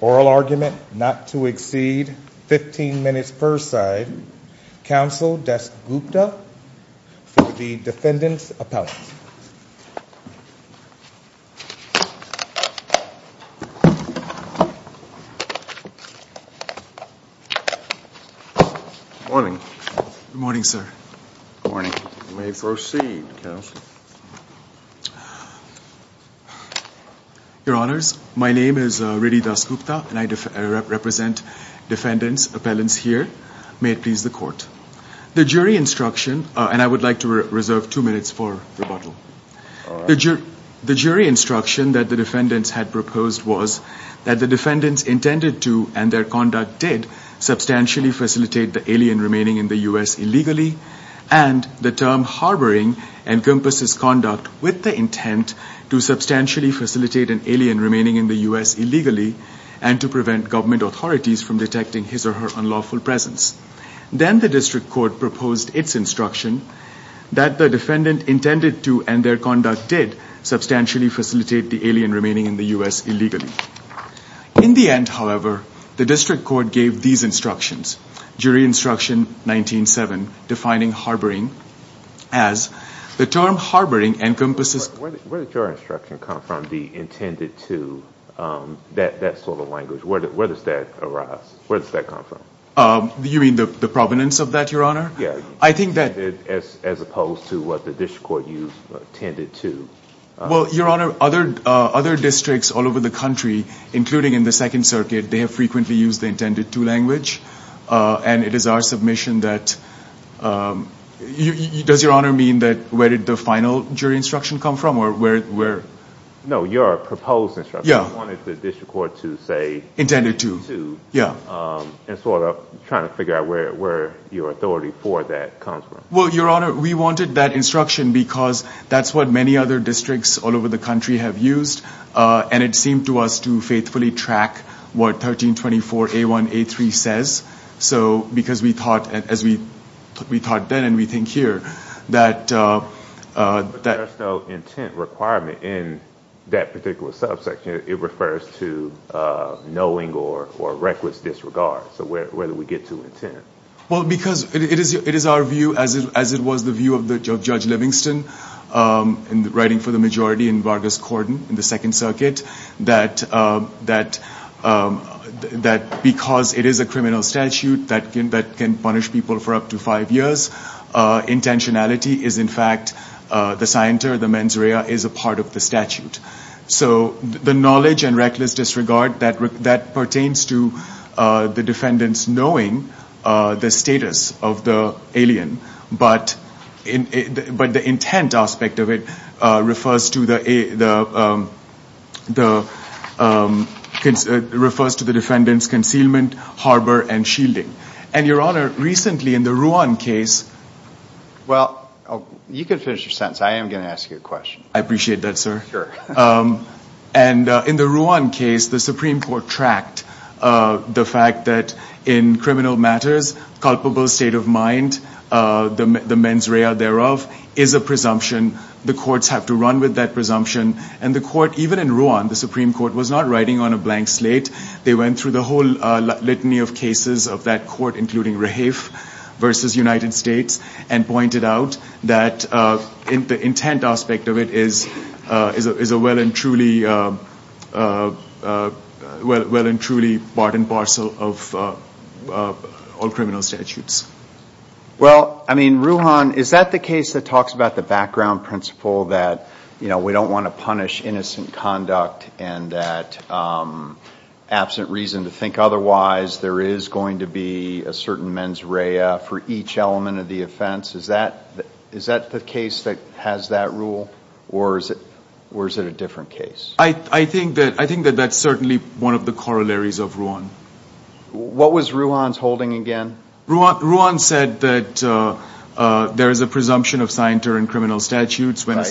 oral argument not to exceed 15 minutes per side counsel desk Gupta for the defendant's appellant. Your honors, my name is Riddhi Das Gupta and I represent defendant's appellants here. May it please the court. The jury instruction and I would like to reserve two minutes for rebuttal. The jury instruction that the defendants had proposed was that the defendants intended to and their conduct did substantially facilitate the alien remaining in the U.S. illegally and the term harboring encompasses conduct with the intent to substantially facilitate an alien remaining in the U.S. illegally and to prevent government authorities from detecting his or her unlawful presence. Then the district court proposed its instruction that the defendant intended to and their conduct did substantially facilitate the alien remaining in the U.S. illegally. In the end, however, the district court gave these instructions. Jury instruction 19-7 defining harboring as the term harboring encompasses. Where did your instruction come from the intended to that sort of language? Where does that arise? Where does that come from? You mean the provenance of that, I think that. As opposed to what the district court used intended to. Well, your honor, other districts all over the country, including in the second circuit, they have frequently used the intended to language and it is our submission that, does your honor mean that where did the final jury instruction come from? No, your proposed instruction. You wanted the district court to say intended to and sort of figure out where your authority for that comes from. Well, your honor, we wanted that instruction because that is what many other districts all over the country have used and it seemed to us to faithfully track what 1324A1A3 says. Because we thought, as we thought then and we think here, that. There is no intent requirement in that particular subsection. It refers to knowing or reckless disregard. So where do we get to intent? Well, because it is our view as it was the view of Judge Livingston in writing for the majority in Vargas Cordon in the second circuit that because it is a criminal statute that can punish people for up to five years, intentionality is in fact the scienter, the mens rea is a part of the statute. So the knowledge and reckless disregard that pertains to the defendants knowing the status of the alien, but the intent aspect of it refers to the defendants concealment, harbor, and shielding. And your honor, recently in the Ruan case. Well, you can finish your sentence. I am going to ask you a question. I appreciate that, sir. And in the Ruan case, the Supreme Court tracked the fact that in criminal matters, culpable state of mind, the mens rea thereof is a presumption. The courts have to run with that presumption and the court, even in Ruan, the Supreme Court was not writing on a blank slate. They went through the whole litany of cases of that court, including Rafe versus United States, and pointed out that the intent aspect of it is a well and truly part and parcel of all criminal statutes. Well, I mean, Ruan, is that the case that talks about the background principle that we don't want to punish innocent conduct and that absent reason to think otherwise, there is going to be a certain mens rea for each element of the offense? Is that the case that has that rule? Or is it a different case? I think that that's certainly one of the corollaries of Ruan. What was Ruan's holding again? Ruan said that there is a presumption of signatory in criminal statutes when a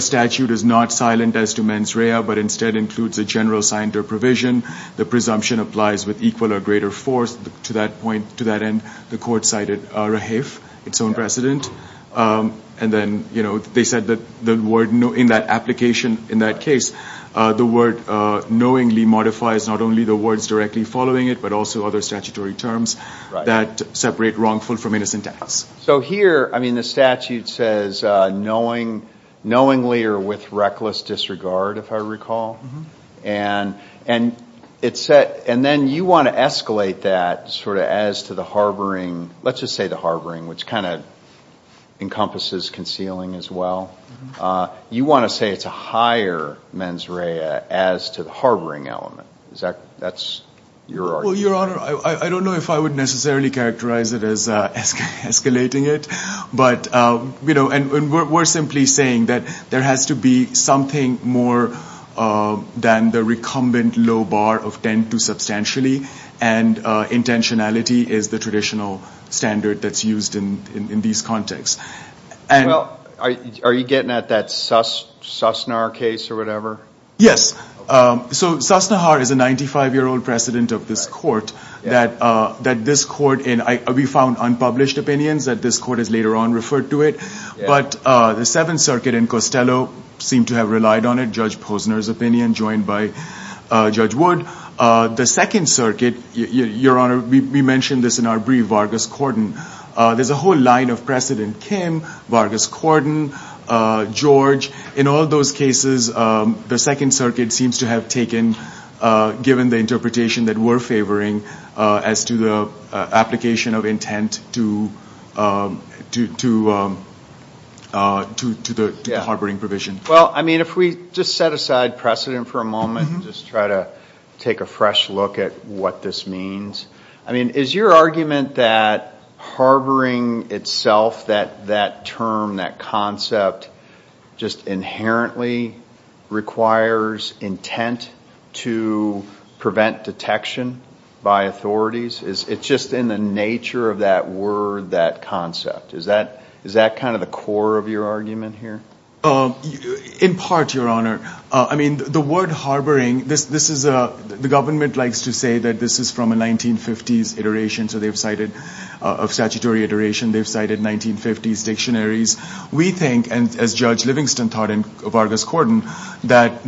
statute is not silent as to mens rea, but instead includes a general signatory provision. The presumption applies with equal or greater force. To that end, the court cited Rafe, its own precedent. And then they said that in that application, in that case, the word knowingly modifies not only the words directly following it, but also other statutory terms that separate wrongful from innocent acts. So here, I mean, the statute says knowingly or with reckless disregard, if I recall. And then you want to escalate that sort of as to the harboring, let's just say the harboring, which kind of encompasses concealing as well. You want to say it's a higher mens rea as to the harboring element. Is that, that's your argument? Your Honor, I don't know if I would necessarily characterize it as escalating it, but we're simply saying that there has to be something more than the recumbent low bar of 10-2 substantially. And intentionality is the traditional standard that's used in these contexts. Well, are you getting at that Susnahar case or whatever? Yes. So Susnahar is a 95-year-old precedent of this court that this court, and we found unpublished opinions that this court has later on referred to it. But the Seventh Circuit in Costello seemed to have relied on it, Judge Posner's opinion joined by Judge Wood. The Second Circuit, Your Honor, we mentioned this in our brief, Vargas-Cordon. There's a whole line of precedent, Kim, Vargas-Cordon, George. In all those cases, the Second Circuit seems to have taken, given the interpretation that we're favoring as to the application of intent to the harboring provision. Well, I mean, if we just set aside precedent for a moment and just try to take a fresh look at what this means, I mean, is your argument that harboring itself, that term, that concept, just inherently requires intent to prevent detection by authorities? It's just in the nature of that word, that concept. Is that kind of the core of your argument here? Well, in part, Your Honor, I mean, the word harboring, the government likes to say that this is from a 1950s iteration of statutory iteration. They've cited 1950s dictionaries. We think, as Judge Livingston taught in Vargas-Cordon, that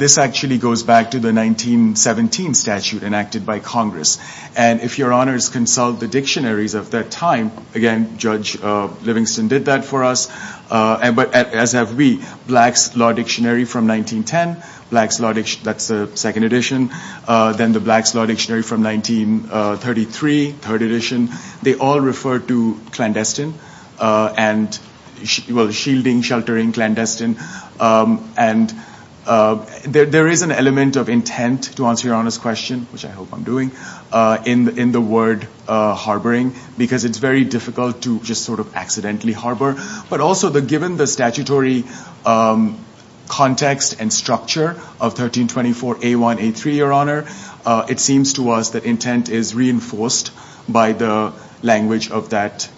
this actually goes back to the 1917 statute enacted by Congress. And if Your Honors consult the dictionaries of that time, again, Judge Livingston did that for us. But as have we, Black's Law Dictionary from 1910, Black's Law Dictionary, that's the second edition, then the Black's Law Dictionary from 1933, third edition, they all refer to clandestine and, well, shielding, sheltering, clandestine. And there is an element of intent, to answer Your Honor's question, which I hope I'm doing, in the word harboring, because it's very difficult to just sort of accidentally harbor. But also, given the statutory context and structure of 1324A1A3, Your Honor, it seems to us that intent is reinforced by the language of that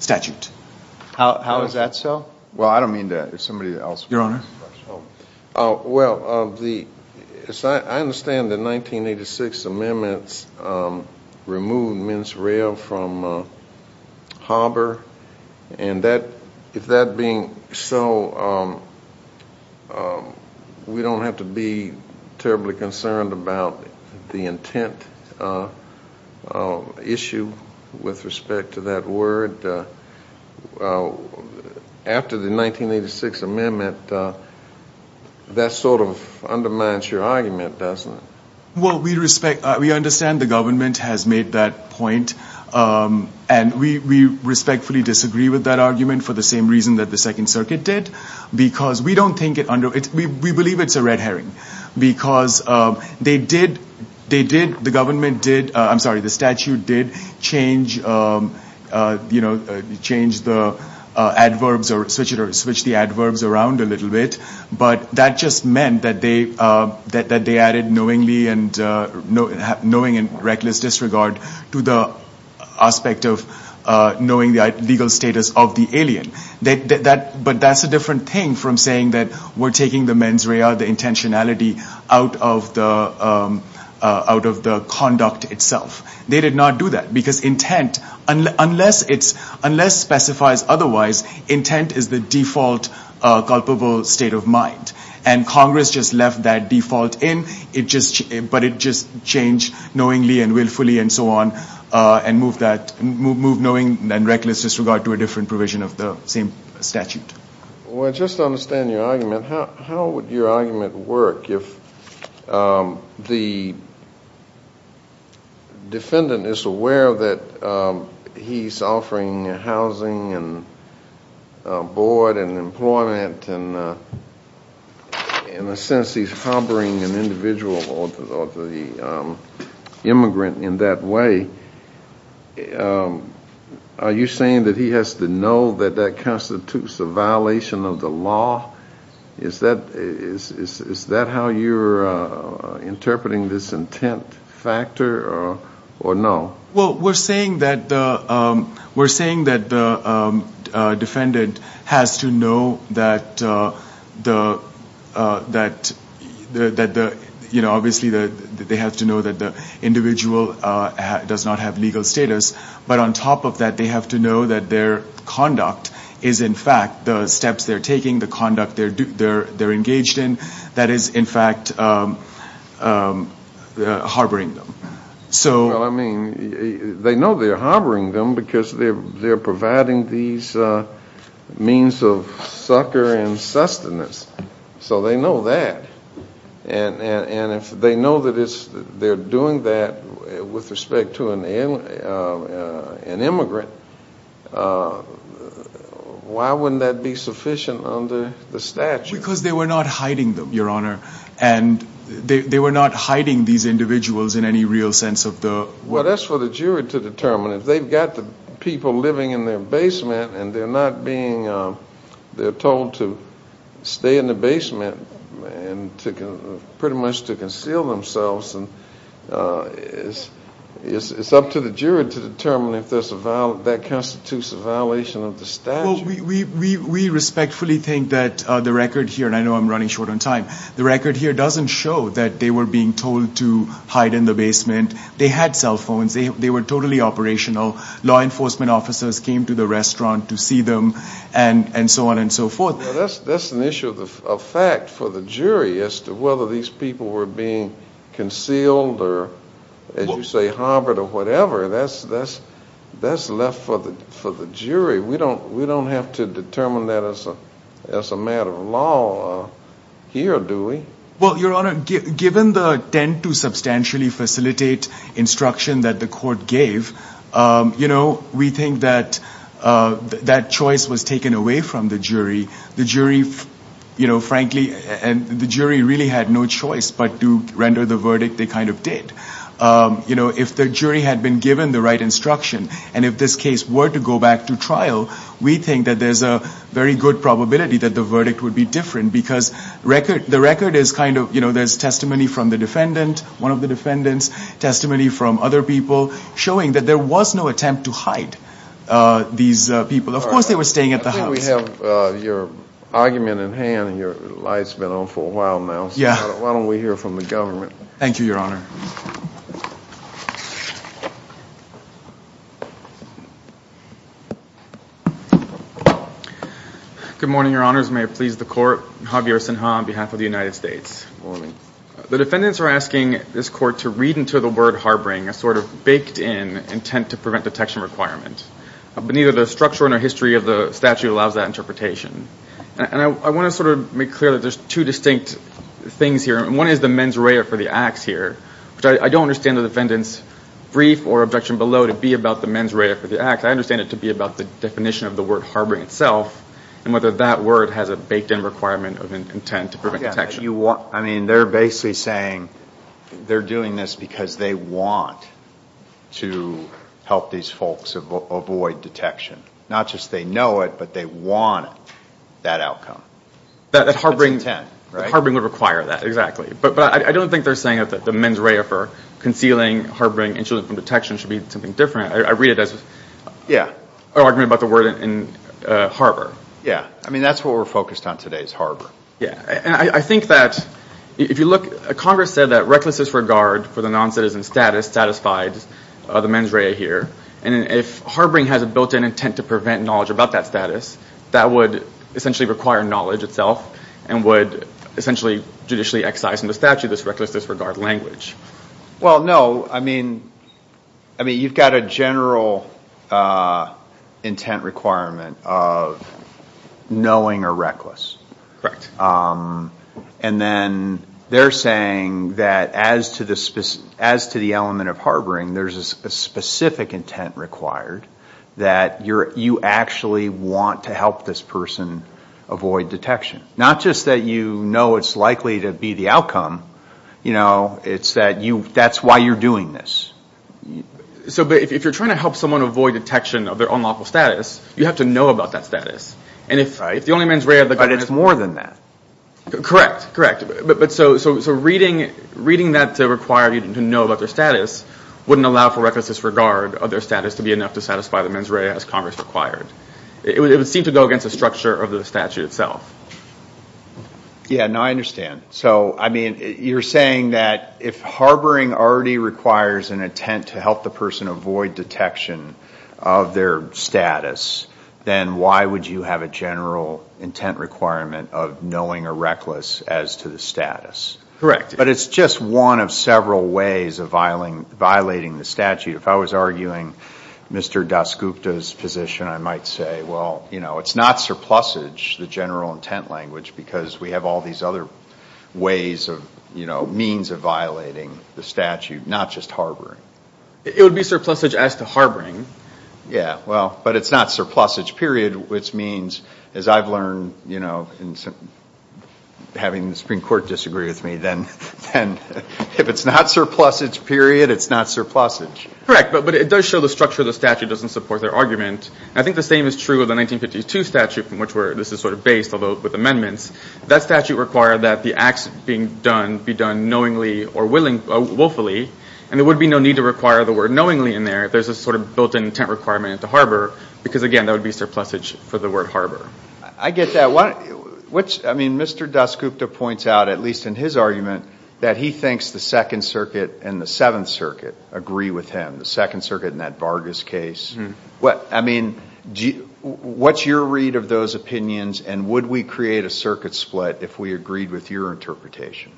statute. How is that so? Well, I don't mean that. It's somebody else. Your Honor? Well, I understand the 1986 amendments removed mens rea from harbor. And if that being so, we don't have to be terribly concerned about the intent issue with respect to that word. But after the 1986 amendment, that sort of undermines your argument, doesn't it? Well, we respect, we understand the government has made that point. And we respectfully disagree with that argument for the same reason that the Second Circuit did. Because we don't think it, we believe it's a red herring. Because they did, they did, the government did, I'm sorry, the statute did change, you know, change the adverbs or switch it or switch the adverbs around a little bit. But that just meant that they, that they added knowingly and knowing and reckless disregard to the aspect of knowing the legal status of the alien. That, but that's a different thing from saying that we're taking the mens rea, the intentionality out of the conduct itself. They did not do that. Because intent, unless it's, unless specifies otherwise, intent is the default culpable state of mind. And Congress just left that default in. It just, but it just changed knowingly and willfully and so on and moved that, moved knowing and reckless disregard to a different provision of the same statute. Well, just to understand your argument, how would your argument work if the defendant is aware that he's offering housing and board and employment and in a sense he's harboring an individual or the immigrant in that way, are you saying that he has to know that that constitutes a violation of the law? Is that, is that how you're interpreting this intent factor or no? Well, we're saying that the, we're saying that the defendant has to know that the, that the, that the, you know, they have to know that the individual does not have legal status, but on top of that they have to know that their conduct is in fact the steps they're taking, the conduct they're engaged in, that is in fact harboring them. So. Well, I mean, they know they're harboring them because they're providing these means of succor and sustenance, so they know that. And if they know that it's, they're doing that with respect to an immigrant, why wouldn't that be sufficient under the statute? Because they were not hiding them, your honor, and they were not hiding these individuals in any real sense of the word. Well, that's for the jury to determine. If they've got the people living in their basement and they're not being, they're told to stay in the basement and pretty much to conceal themselves, it's up to the jury to determine if that constitutes a violation of the statute. Well, we respectfully think that the record here, and I know I'm running short on time, the record here doesn't show that they were being told to hide in the basement. They had cell law enforcement officers came to the restaurant to see them and so on and so forth. That's an issue of fact for the jury as to whether these people were being concealed or, as you say, harbored or whatever. That's left for the jury. We don't have to determine that as a matter of law here, do we? Well, your honor, given the attempt to facilitate instruction that the court gave, we think that that choice was taken away from the jury. The jury, frankly, really had no choice but to render the verdict they kind of did. If the jury had been given the right instruction and if this case were to go back to trial, we think that there's a very good probability that the verdict would be different because the record is kind of, you know, there's testimony from the defendant, one of the defendants, testimony from other people showing that there was no attempt to hide these people. Of course, they were staying at the house. I think we have your argument in hand and your light's been on for a while now. Yeah. Why don't we hear from the government? Thank you, your honor. Good morning, your honors. May it please the court. Javier Sinha on behalf of the United States. Morning. The defendants are asking this court to read into the word harboring a sort of baked-in intent to prevent detection requirement, but neither the structure nor history of the statute allows that interpretation. And I want to sort of make clear that there's two distinct things here. One is the mens rea for the acts here. The other is the men's rea for the actions. I don't understand the defendant's brief or objection below to be about the men's rea for the acts. I understand it to be about the definition of the word harboring itself and whether that word has a baked-in requirement of intent to prevent detection. I mean, they're basically saying they're doing this because they want to help these folks avoid detection. Not just they know it, but they want that outcome. That's intent, right? Harboring would require that, exactly. But I don't think they're saying that the mens rea for concealing, harboring, and shielding from detection should be something different. I read it as an argument about the word in harbor. Yeah. I mean, that's what we're focused on today is harbor. Yeah. And I think that if you look, Congress said that reckless disregard for the non-citizen status satisfied the mens rea here. And if harboring has a built-in intent to prevent knowledge about that that would essentially require knowledge itself and would essentially judicially excise in the statute this reckless disregard language. Well, no. I mean, you've got a general intent requirement of knowing a reckless. Correct. And then they're saying that as to the element of harboring, there's a specific intent required that you actually want to help this person avoid detection. Not just that you know it's likely to be the outcome, it's that that's why you're doing this. So if you're trying to help someone avoid detection of their unlawful status, you have to know about that status. Right. And if the only mens rea... But it's more than that. Correct. But so reading that to require you to know about their status wouldn't allow for reckless disregard of their status to be enough to satisfy the mens rea as Congress required. It would seem to go against the structure of the statute itself. Yeah. No, I understand. So, I mean, you're saying that if harboring already requires an intent to help the person avoid detection of their status, then why would you have a general intent requirement of knowing a reckless as to the status? Correct. But it's just one of several ways of violating the statute. If I was arguing Mr. Dasgupta's position, I might say, well, you know, it's not surplusage, the general intent language, because we have all these other ways of, you know, means of violating the statute, not just harboring. It would be surplusage as to harboring. Yeah, well, but it's not surplusage, which means, as I've learned, you know, having the Supreme Court disagree with me, then if it's not surplusage, period, it's not surplusage. Correct. But it does show the structure of the statute doesn't support their argument. I think the same is true of the 1952 statute from which this is sort of based, although with amendments. That statute required that the acts being done be done knowingly or willfully, and there would be no need to require the word knowingly in there if there's a sort of built-in intent requirement to harbor, because, again, that would be surplusage for the word harbor. I get that. I mean, Mr. Dasgupta points out, at least in his argument, that he thinks the Second Circuit and the Seventh Circuit agree with him, the Second Circuit in that Vargas case. I mean, what's your read of those opinions, and would we create a circuit split if we agreed with your interpretation?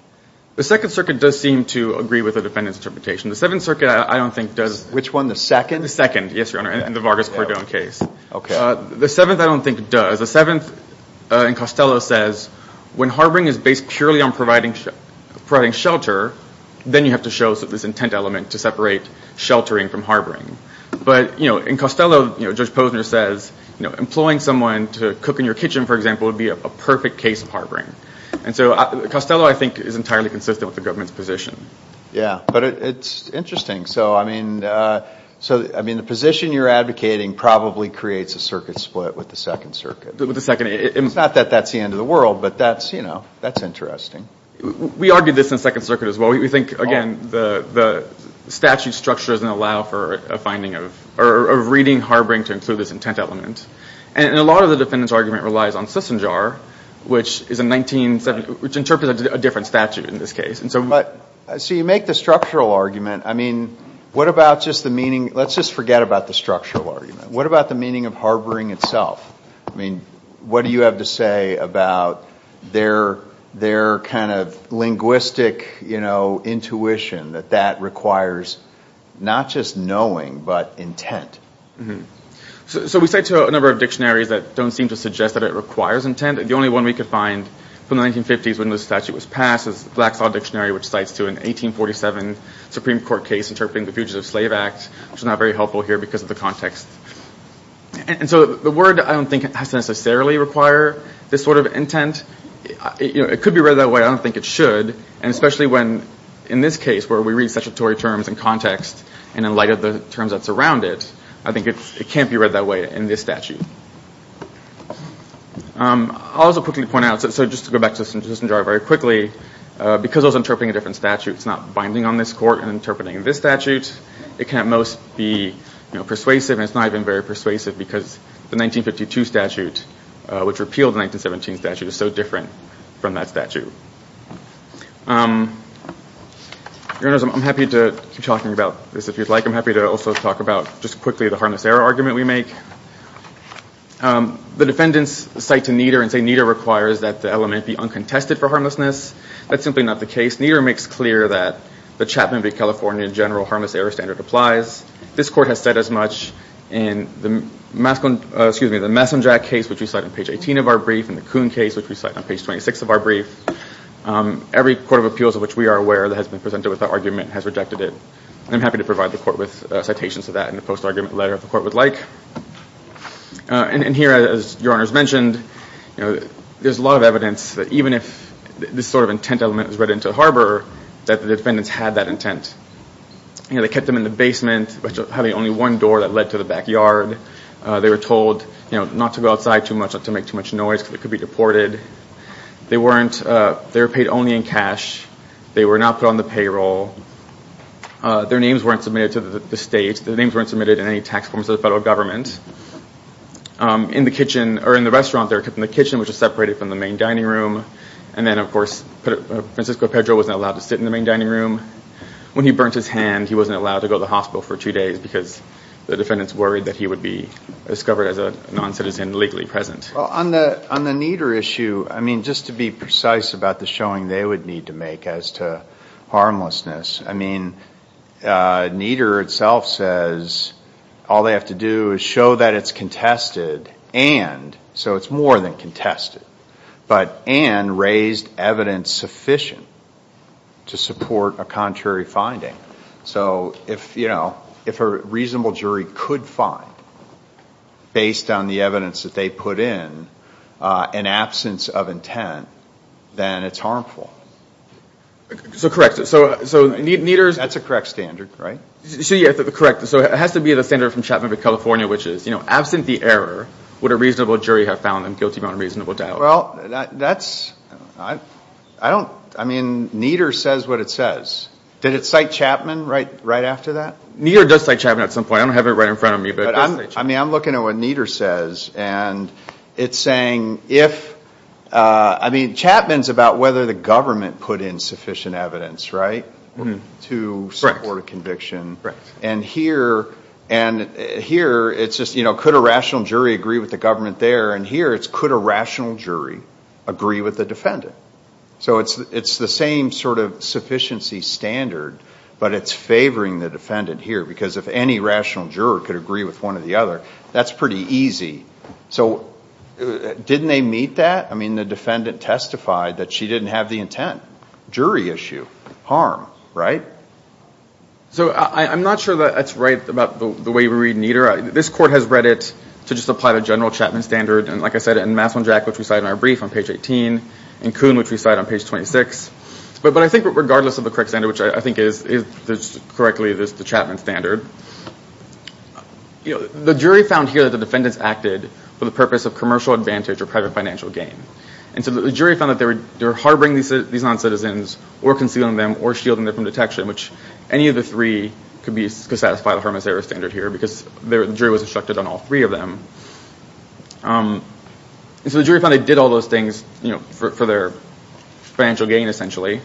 The Second Circuit does seem to agree with the defendant's interpretation. The Seventh Circuit, I don't think, does. Which one, the Second? The Second, yes, Your Honor, in the Vargas-Cordone case. The Seventh, I don't think, does. The Seventh, in Costello, says, when harboring is based purely on providing shelter, then you have to show this intent element to separate sheltering from harboring. But, you know, in Costello, Judge Posner says, you know, employing someone to cook in your kitchen, for example, would be a perfect case of harboring. And so Costello, I think, is entirely consistent with the government's position. Yeah. But it's interesting. So, I mean, the position you're advocating probably creates a circuit split with the Second Circuit. With the Second. It's not that that's the end of the world, but that's, you know, that's interesting. We argued this in Second Circuit as well. We think, again, the statute structure doesn't allow for a finding of, or a reading harboring to include this intent element. And a lot of the defendant's argument relies on Cisengar, which is a 1970, which interprets a different statute, in this case. So you make the structural argument. I mean, what about just the meaning, let's just forget about the structural argument. What about the meaning of harboring itself? I mean, what do you have to say about their kind of linguistic, you know, intuition, that that requires not just knowing, but intent? So we said to a number of dictionaries that don't seem to suggest that it requires intent. The only one we could find from the 1950s when this statute was passed is the Black Saw Dictionary, which cites to an 1847 Supreme Court case interpreting the Fugitive Slave Act, which is not very helpful here because of the context. And so the word, I don't think, has to necessarily require this sort of intent. It could be read that way. I don't think it should. And especially when, in this case, where we read statutory terms in context, and in light of the terms that surround it, I think it can't be read that way in this statute. I'll also quickly point out, so just to go back to this jar very quickly, because I was interpreting a different statute, it's not binding on this court and interpreting this statute. It can at most be persuasive, and it's not even very persuasive because the 1952 statute, which repealed the 1917 statute, is so different from that statute. Your Honors, I'm happy to keep talking about this if you'd like. I'm happy to also talk about, just quickly, the harmless error argument we make. The defendants cite to Nieder and say Nieder requires that the element be uncontested for harmlessness. That's simply not the case. Nieder makes clear that the Chapman v. California general harmless error standard applies. This court has said as much in the Messamjack case, which we cite on page 18 of our brief, and the Kuhn case, which we cite on page 26 of our brief. Every court of appeals of which we are aware that has been presented with that argument has rejected it. I'm happy to provide the court with citations to that in the post-argument letter if the court would like. And here, as Your Honors mentioned, there's a lot of evidence that even if this sort of intent element was read into the harbor, that the defendants had that intent. They kept them in the basement, having only one door that led to the backyard. They were told not to go outside too much, not to make too much noise because they could be deported. They were paid only in cash. They were not put on the payroll. Their names weren't submitted to the state. Their names weren't submitted in any tax forms to the federal government. In the restaurant, they were kept in the kitchen, which was separated from the main dining room. And then, of course, Francisco Pedro wasn't allowed to sit in the main dining room. When he burnt his hand, he wasn't allowed to go to the hospital for two days because the defendants worried that he would be discovered as a non-citizen legally present. Well, on the Nieder issue, I mean, just to be precise about the showing they would need to make as to harmlessness, I mean, Nieder itself says all they have to do is show that it's contested and, so it's more than contested, but and raised evidence sufficient to support a contrary finding. So if a reasonable jury could find, based on the evidence that they put in, an absence of intent, then it's harmful. So correct. So Nieder's... That's a correct standard, right? So yeah, correct. So it has to be the standard from Chapman v. California, which is, you know, absent the error, would a reasonable jury have found them guilty on a reasonable doubt? Well, that's, I don't, I mean, Nieder says what it says. Did it cite Chapman right after that? Nieder does cite Chapman at some point. I don't have it right in front of me. I mean, I'm looking at what Nieder says, and it's saying if, I mean, Chapman's about whether the government put in sufficient evidence, right, to support a conviction. Correct. And here, and here, it's just, you know, could a rational jury agree with the government there? And here, it's could a rational jury agree with the defendant? So it's the same sort of sufficiency standard, but it's favoring the defendant here, because if any rational juror could agree with one or the other, that's pretty easy. So didn't they meet that? I mean, the defendant testified that she didn't have the intent. Jury issue, harm, right? So I'm not sure that that's right about the way we read Nieder. This court has read it to just apply the general Chapman standard, and like I said, and Masson-Jack, which we cite in our brief on page 18, and Kuhn, which we cite on page 26. But I think regardless of the correct standard, which I think is, correctly, the Chapman standard, you know, the jury found here that the defendants acted for the purpose of commercial advantage or private financial gain. And so the jury found that they were harboring these non-citizens, or concealing them, or shielding them from detection, which any of the three could satisfy the harmless error standard here, because the jury was instructed on all three of them. And so the jury found they did all those things, you know, for financial gain, essentially.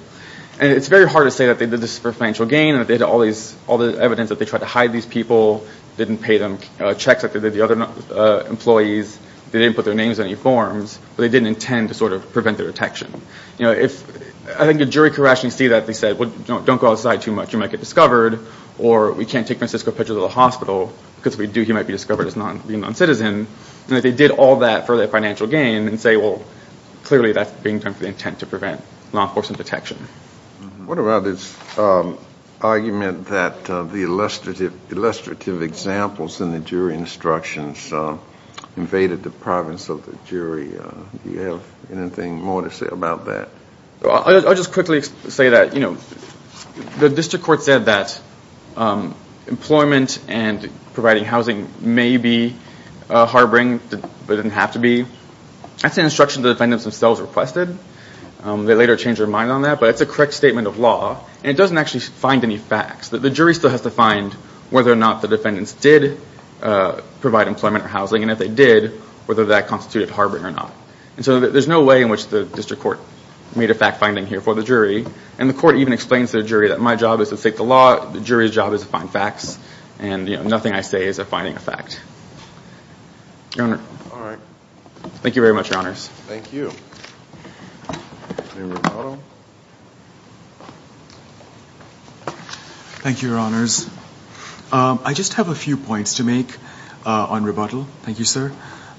And it's very hard to say that they did this for financial gain, and that they had all the evidence that they tried to hide these people, didn't pay them checks like they did the other employees, they didn't put their names on any forms, but they didn't intend to sort of prevent their detection. You know, I think the jury could rationally see that. They said, well, don't go outside too much, you might get discovered, or we can't take Francisco Pichardo to the hospital, because if we do, he might be discovered as being non-citizen. And that they did all that for their financial gain, and say, well, clearly that's being done with the intent to prevent law enforcement detection. What about this argument that the illustrative examples in the jury instructions invaded the province of the jury? Do you have anything more to say about that? I'll just quickly say that, you know, the district court said that employment and providing housing may be harboring, but it didn't have to be. That's an instruction the defendants themselves requested. They later changed their mind on that, but it's a correct statement of law, and it doesn't actually find any facts. The jury still has to find whether or not the defendants did provide employment or housing, and if they did, whether that constituted harboring or not. And so there's no way in which the district court made a fact-finding here for the jury, and the court even explains to the jury that my job is to seek the law, the jury's job is to find fact. Your Honor. All right. Thank you very much, Your Honors. Thank you. Thank you, Your Honors. I just have a few points to make on rebuttal. Thank you, sir.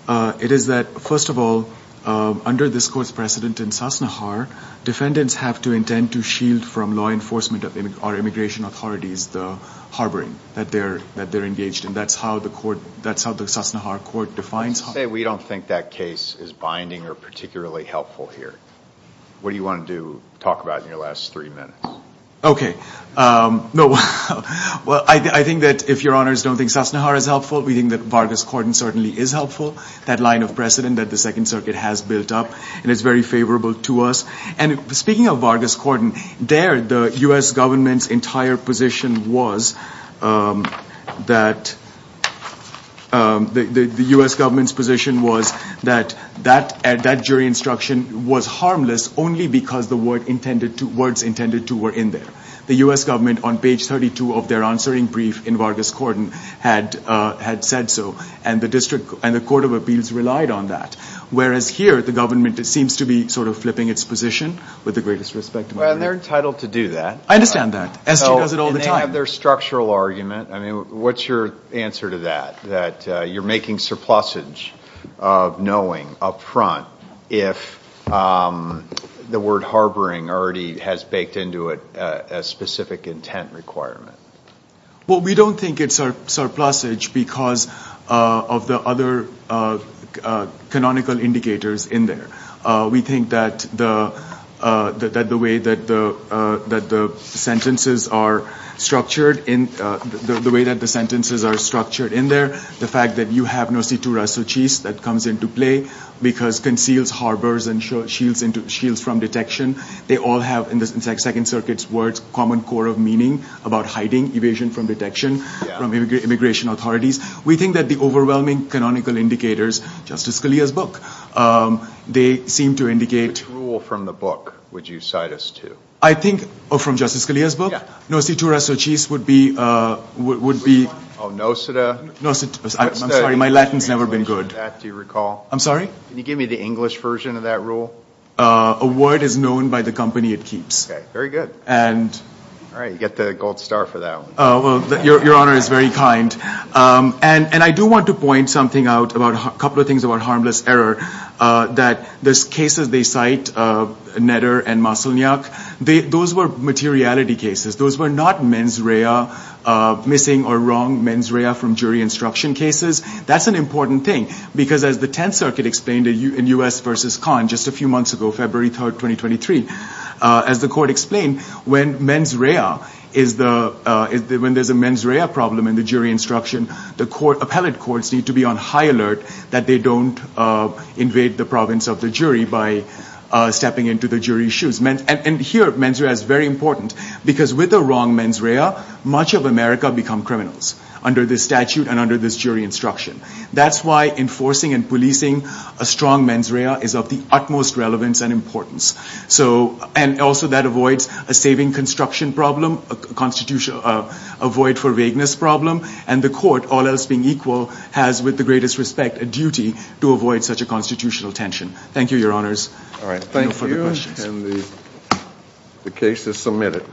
It is that, first of all, under this court's precedent in Sassnachar, defendants have to intend to shield from law enforcement or immigration authorities the harboring that they're engaged in. That's how the Sassnachar court defines it. Let's say we don't think that case is binding or particularly helpful here. What do you want to talk about in your last three minutes? Okay. Well, I think that if Your Honors don't think Sassnachar is helpful, we think that Vargas-Cordon certainly is helpful, that line of precedent that the Second Circuit has built up, and it's very favorable to us. Speaking of Vargas-Cordon, there the U.S. government's entire position was that that jury instruction was harmless only because the words intended to were in there. The U.S. government on page 32 of their answering brief in Vargas-Cordon had said so, and the Court of Appeals relied on that. Whereas here, the government seems to be sort of flipping its position with the greatest respect to my right. Well, they're entitled to do that. I understand that. S.G. does it all the time. And they have their structural argument. I mean, what's your answer to that, that you're making surplusage of knowing up front if the word harboring already has baked into it a specific intent requirement? Well, we don't think it's surplusage because of the other canonical indicators in there. We think that the way that the sentences are structured in there, the fact that you have no situ rassocis that comes into play because conceals, harbors, and shields from detection, they all have, in the Second Circuit's words, common core of meaning about hiding, evasion from detection, from immigration authorities. We think that the overwhelming canonical indicators, Justice Scalia's book, they seem to indicate... Which rule from the book would you cite us to? I think, oh, from Justice Scalia's book? Yeah. No situ rassocis would be... Oh, nosita? Nosita. I'm sorry, my Latin's never been good. That, do you recall? I'm sorry? Can you give me the English version of that rule? A word is known by the company it keeps. Okay, very good. All right, you get the gold star for that one. Oh, well, your honor is very kind. And I do want to point something out, a couple of things about harmless error, that there's cases they cite, Netter and Maslanyak, those were materiality cases. Those were not mens rea, missing or wrong mens rea from jury instruction cases. That's an important thing, because as the 10th Circuit explained in U.S. versus Conn, just a few months ago, February 3rd, 2023, as the court explained, when there's a mens rea problem in the jury instruction, the appellate courts need to be on high alert that they don't invade the province of the jury by stepping into the jury's shoes. And here, mens rea is very important, because with the wrong mens rea, much of America become criminals under this statute and under this jury instruction. That's why enforcing and policing a strong mens rea is of the utmost relevance and importance. And also, that avoids a saving construction problem, a void for vagueness problem, and the court, all else being equal, has, with the greatest respect, a duty to avoid such a constitutional tension. Thank you, your honors. All right, thank you. And the case is submitted.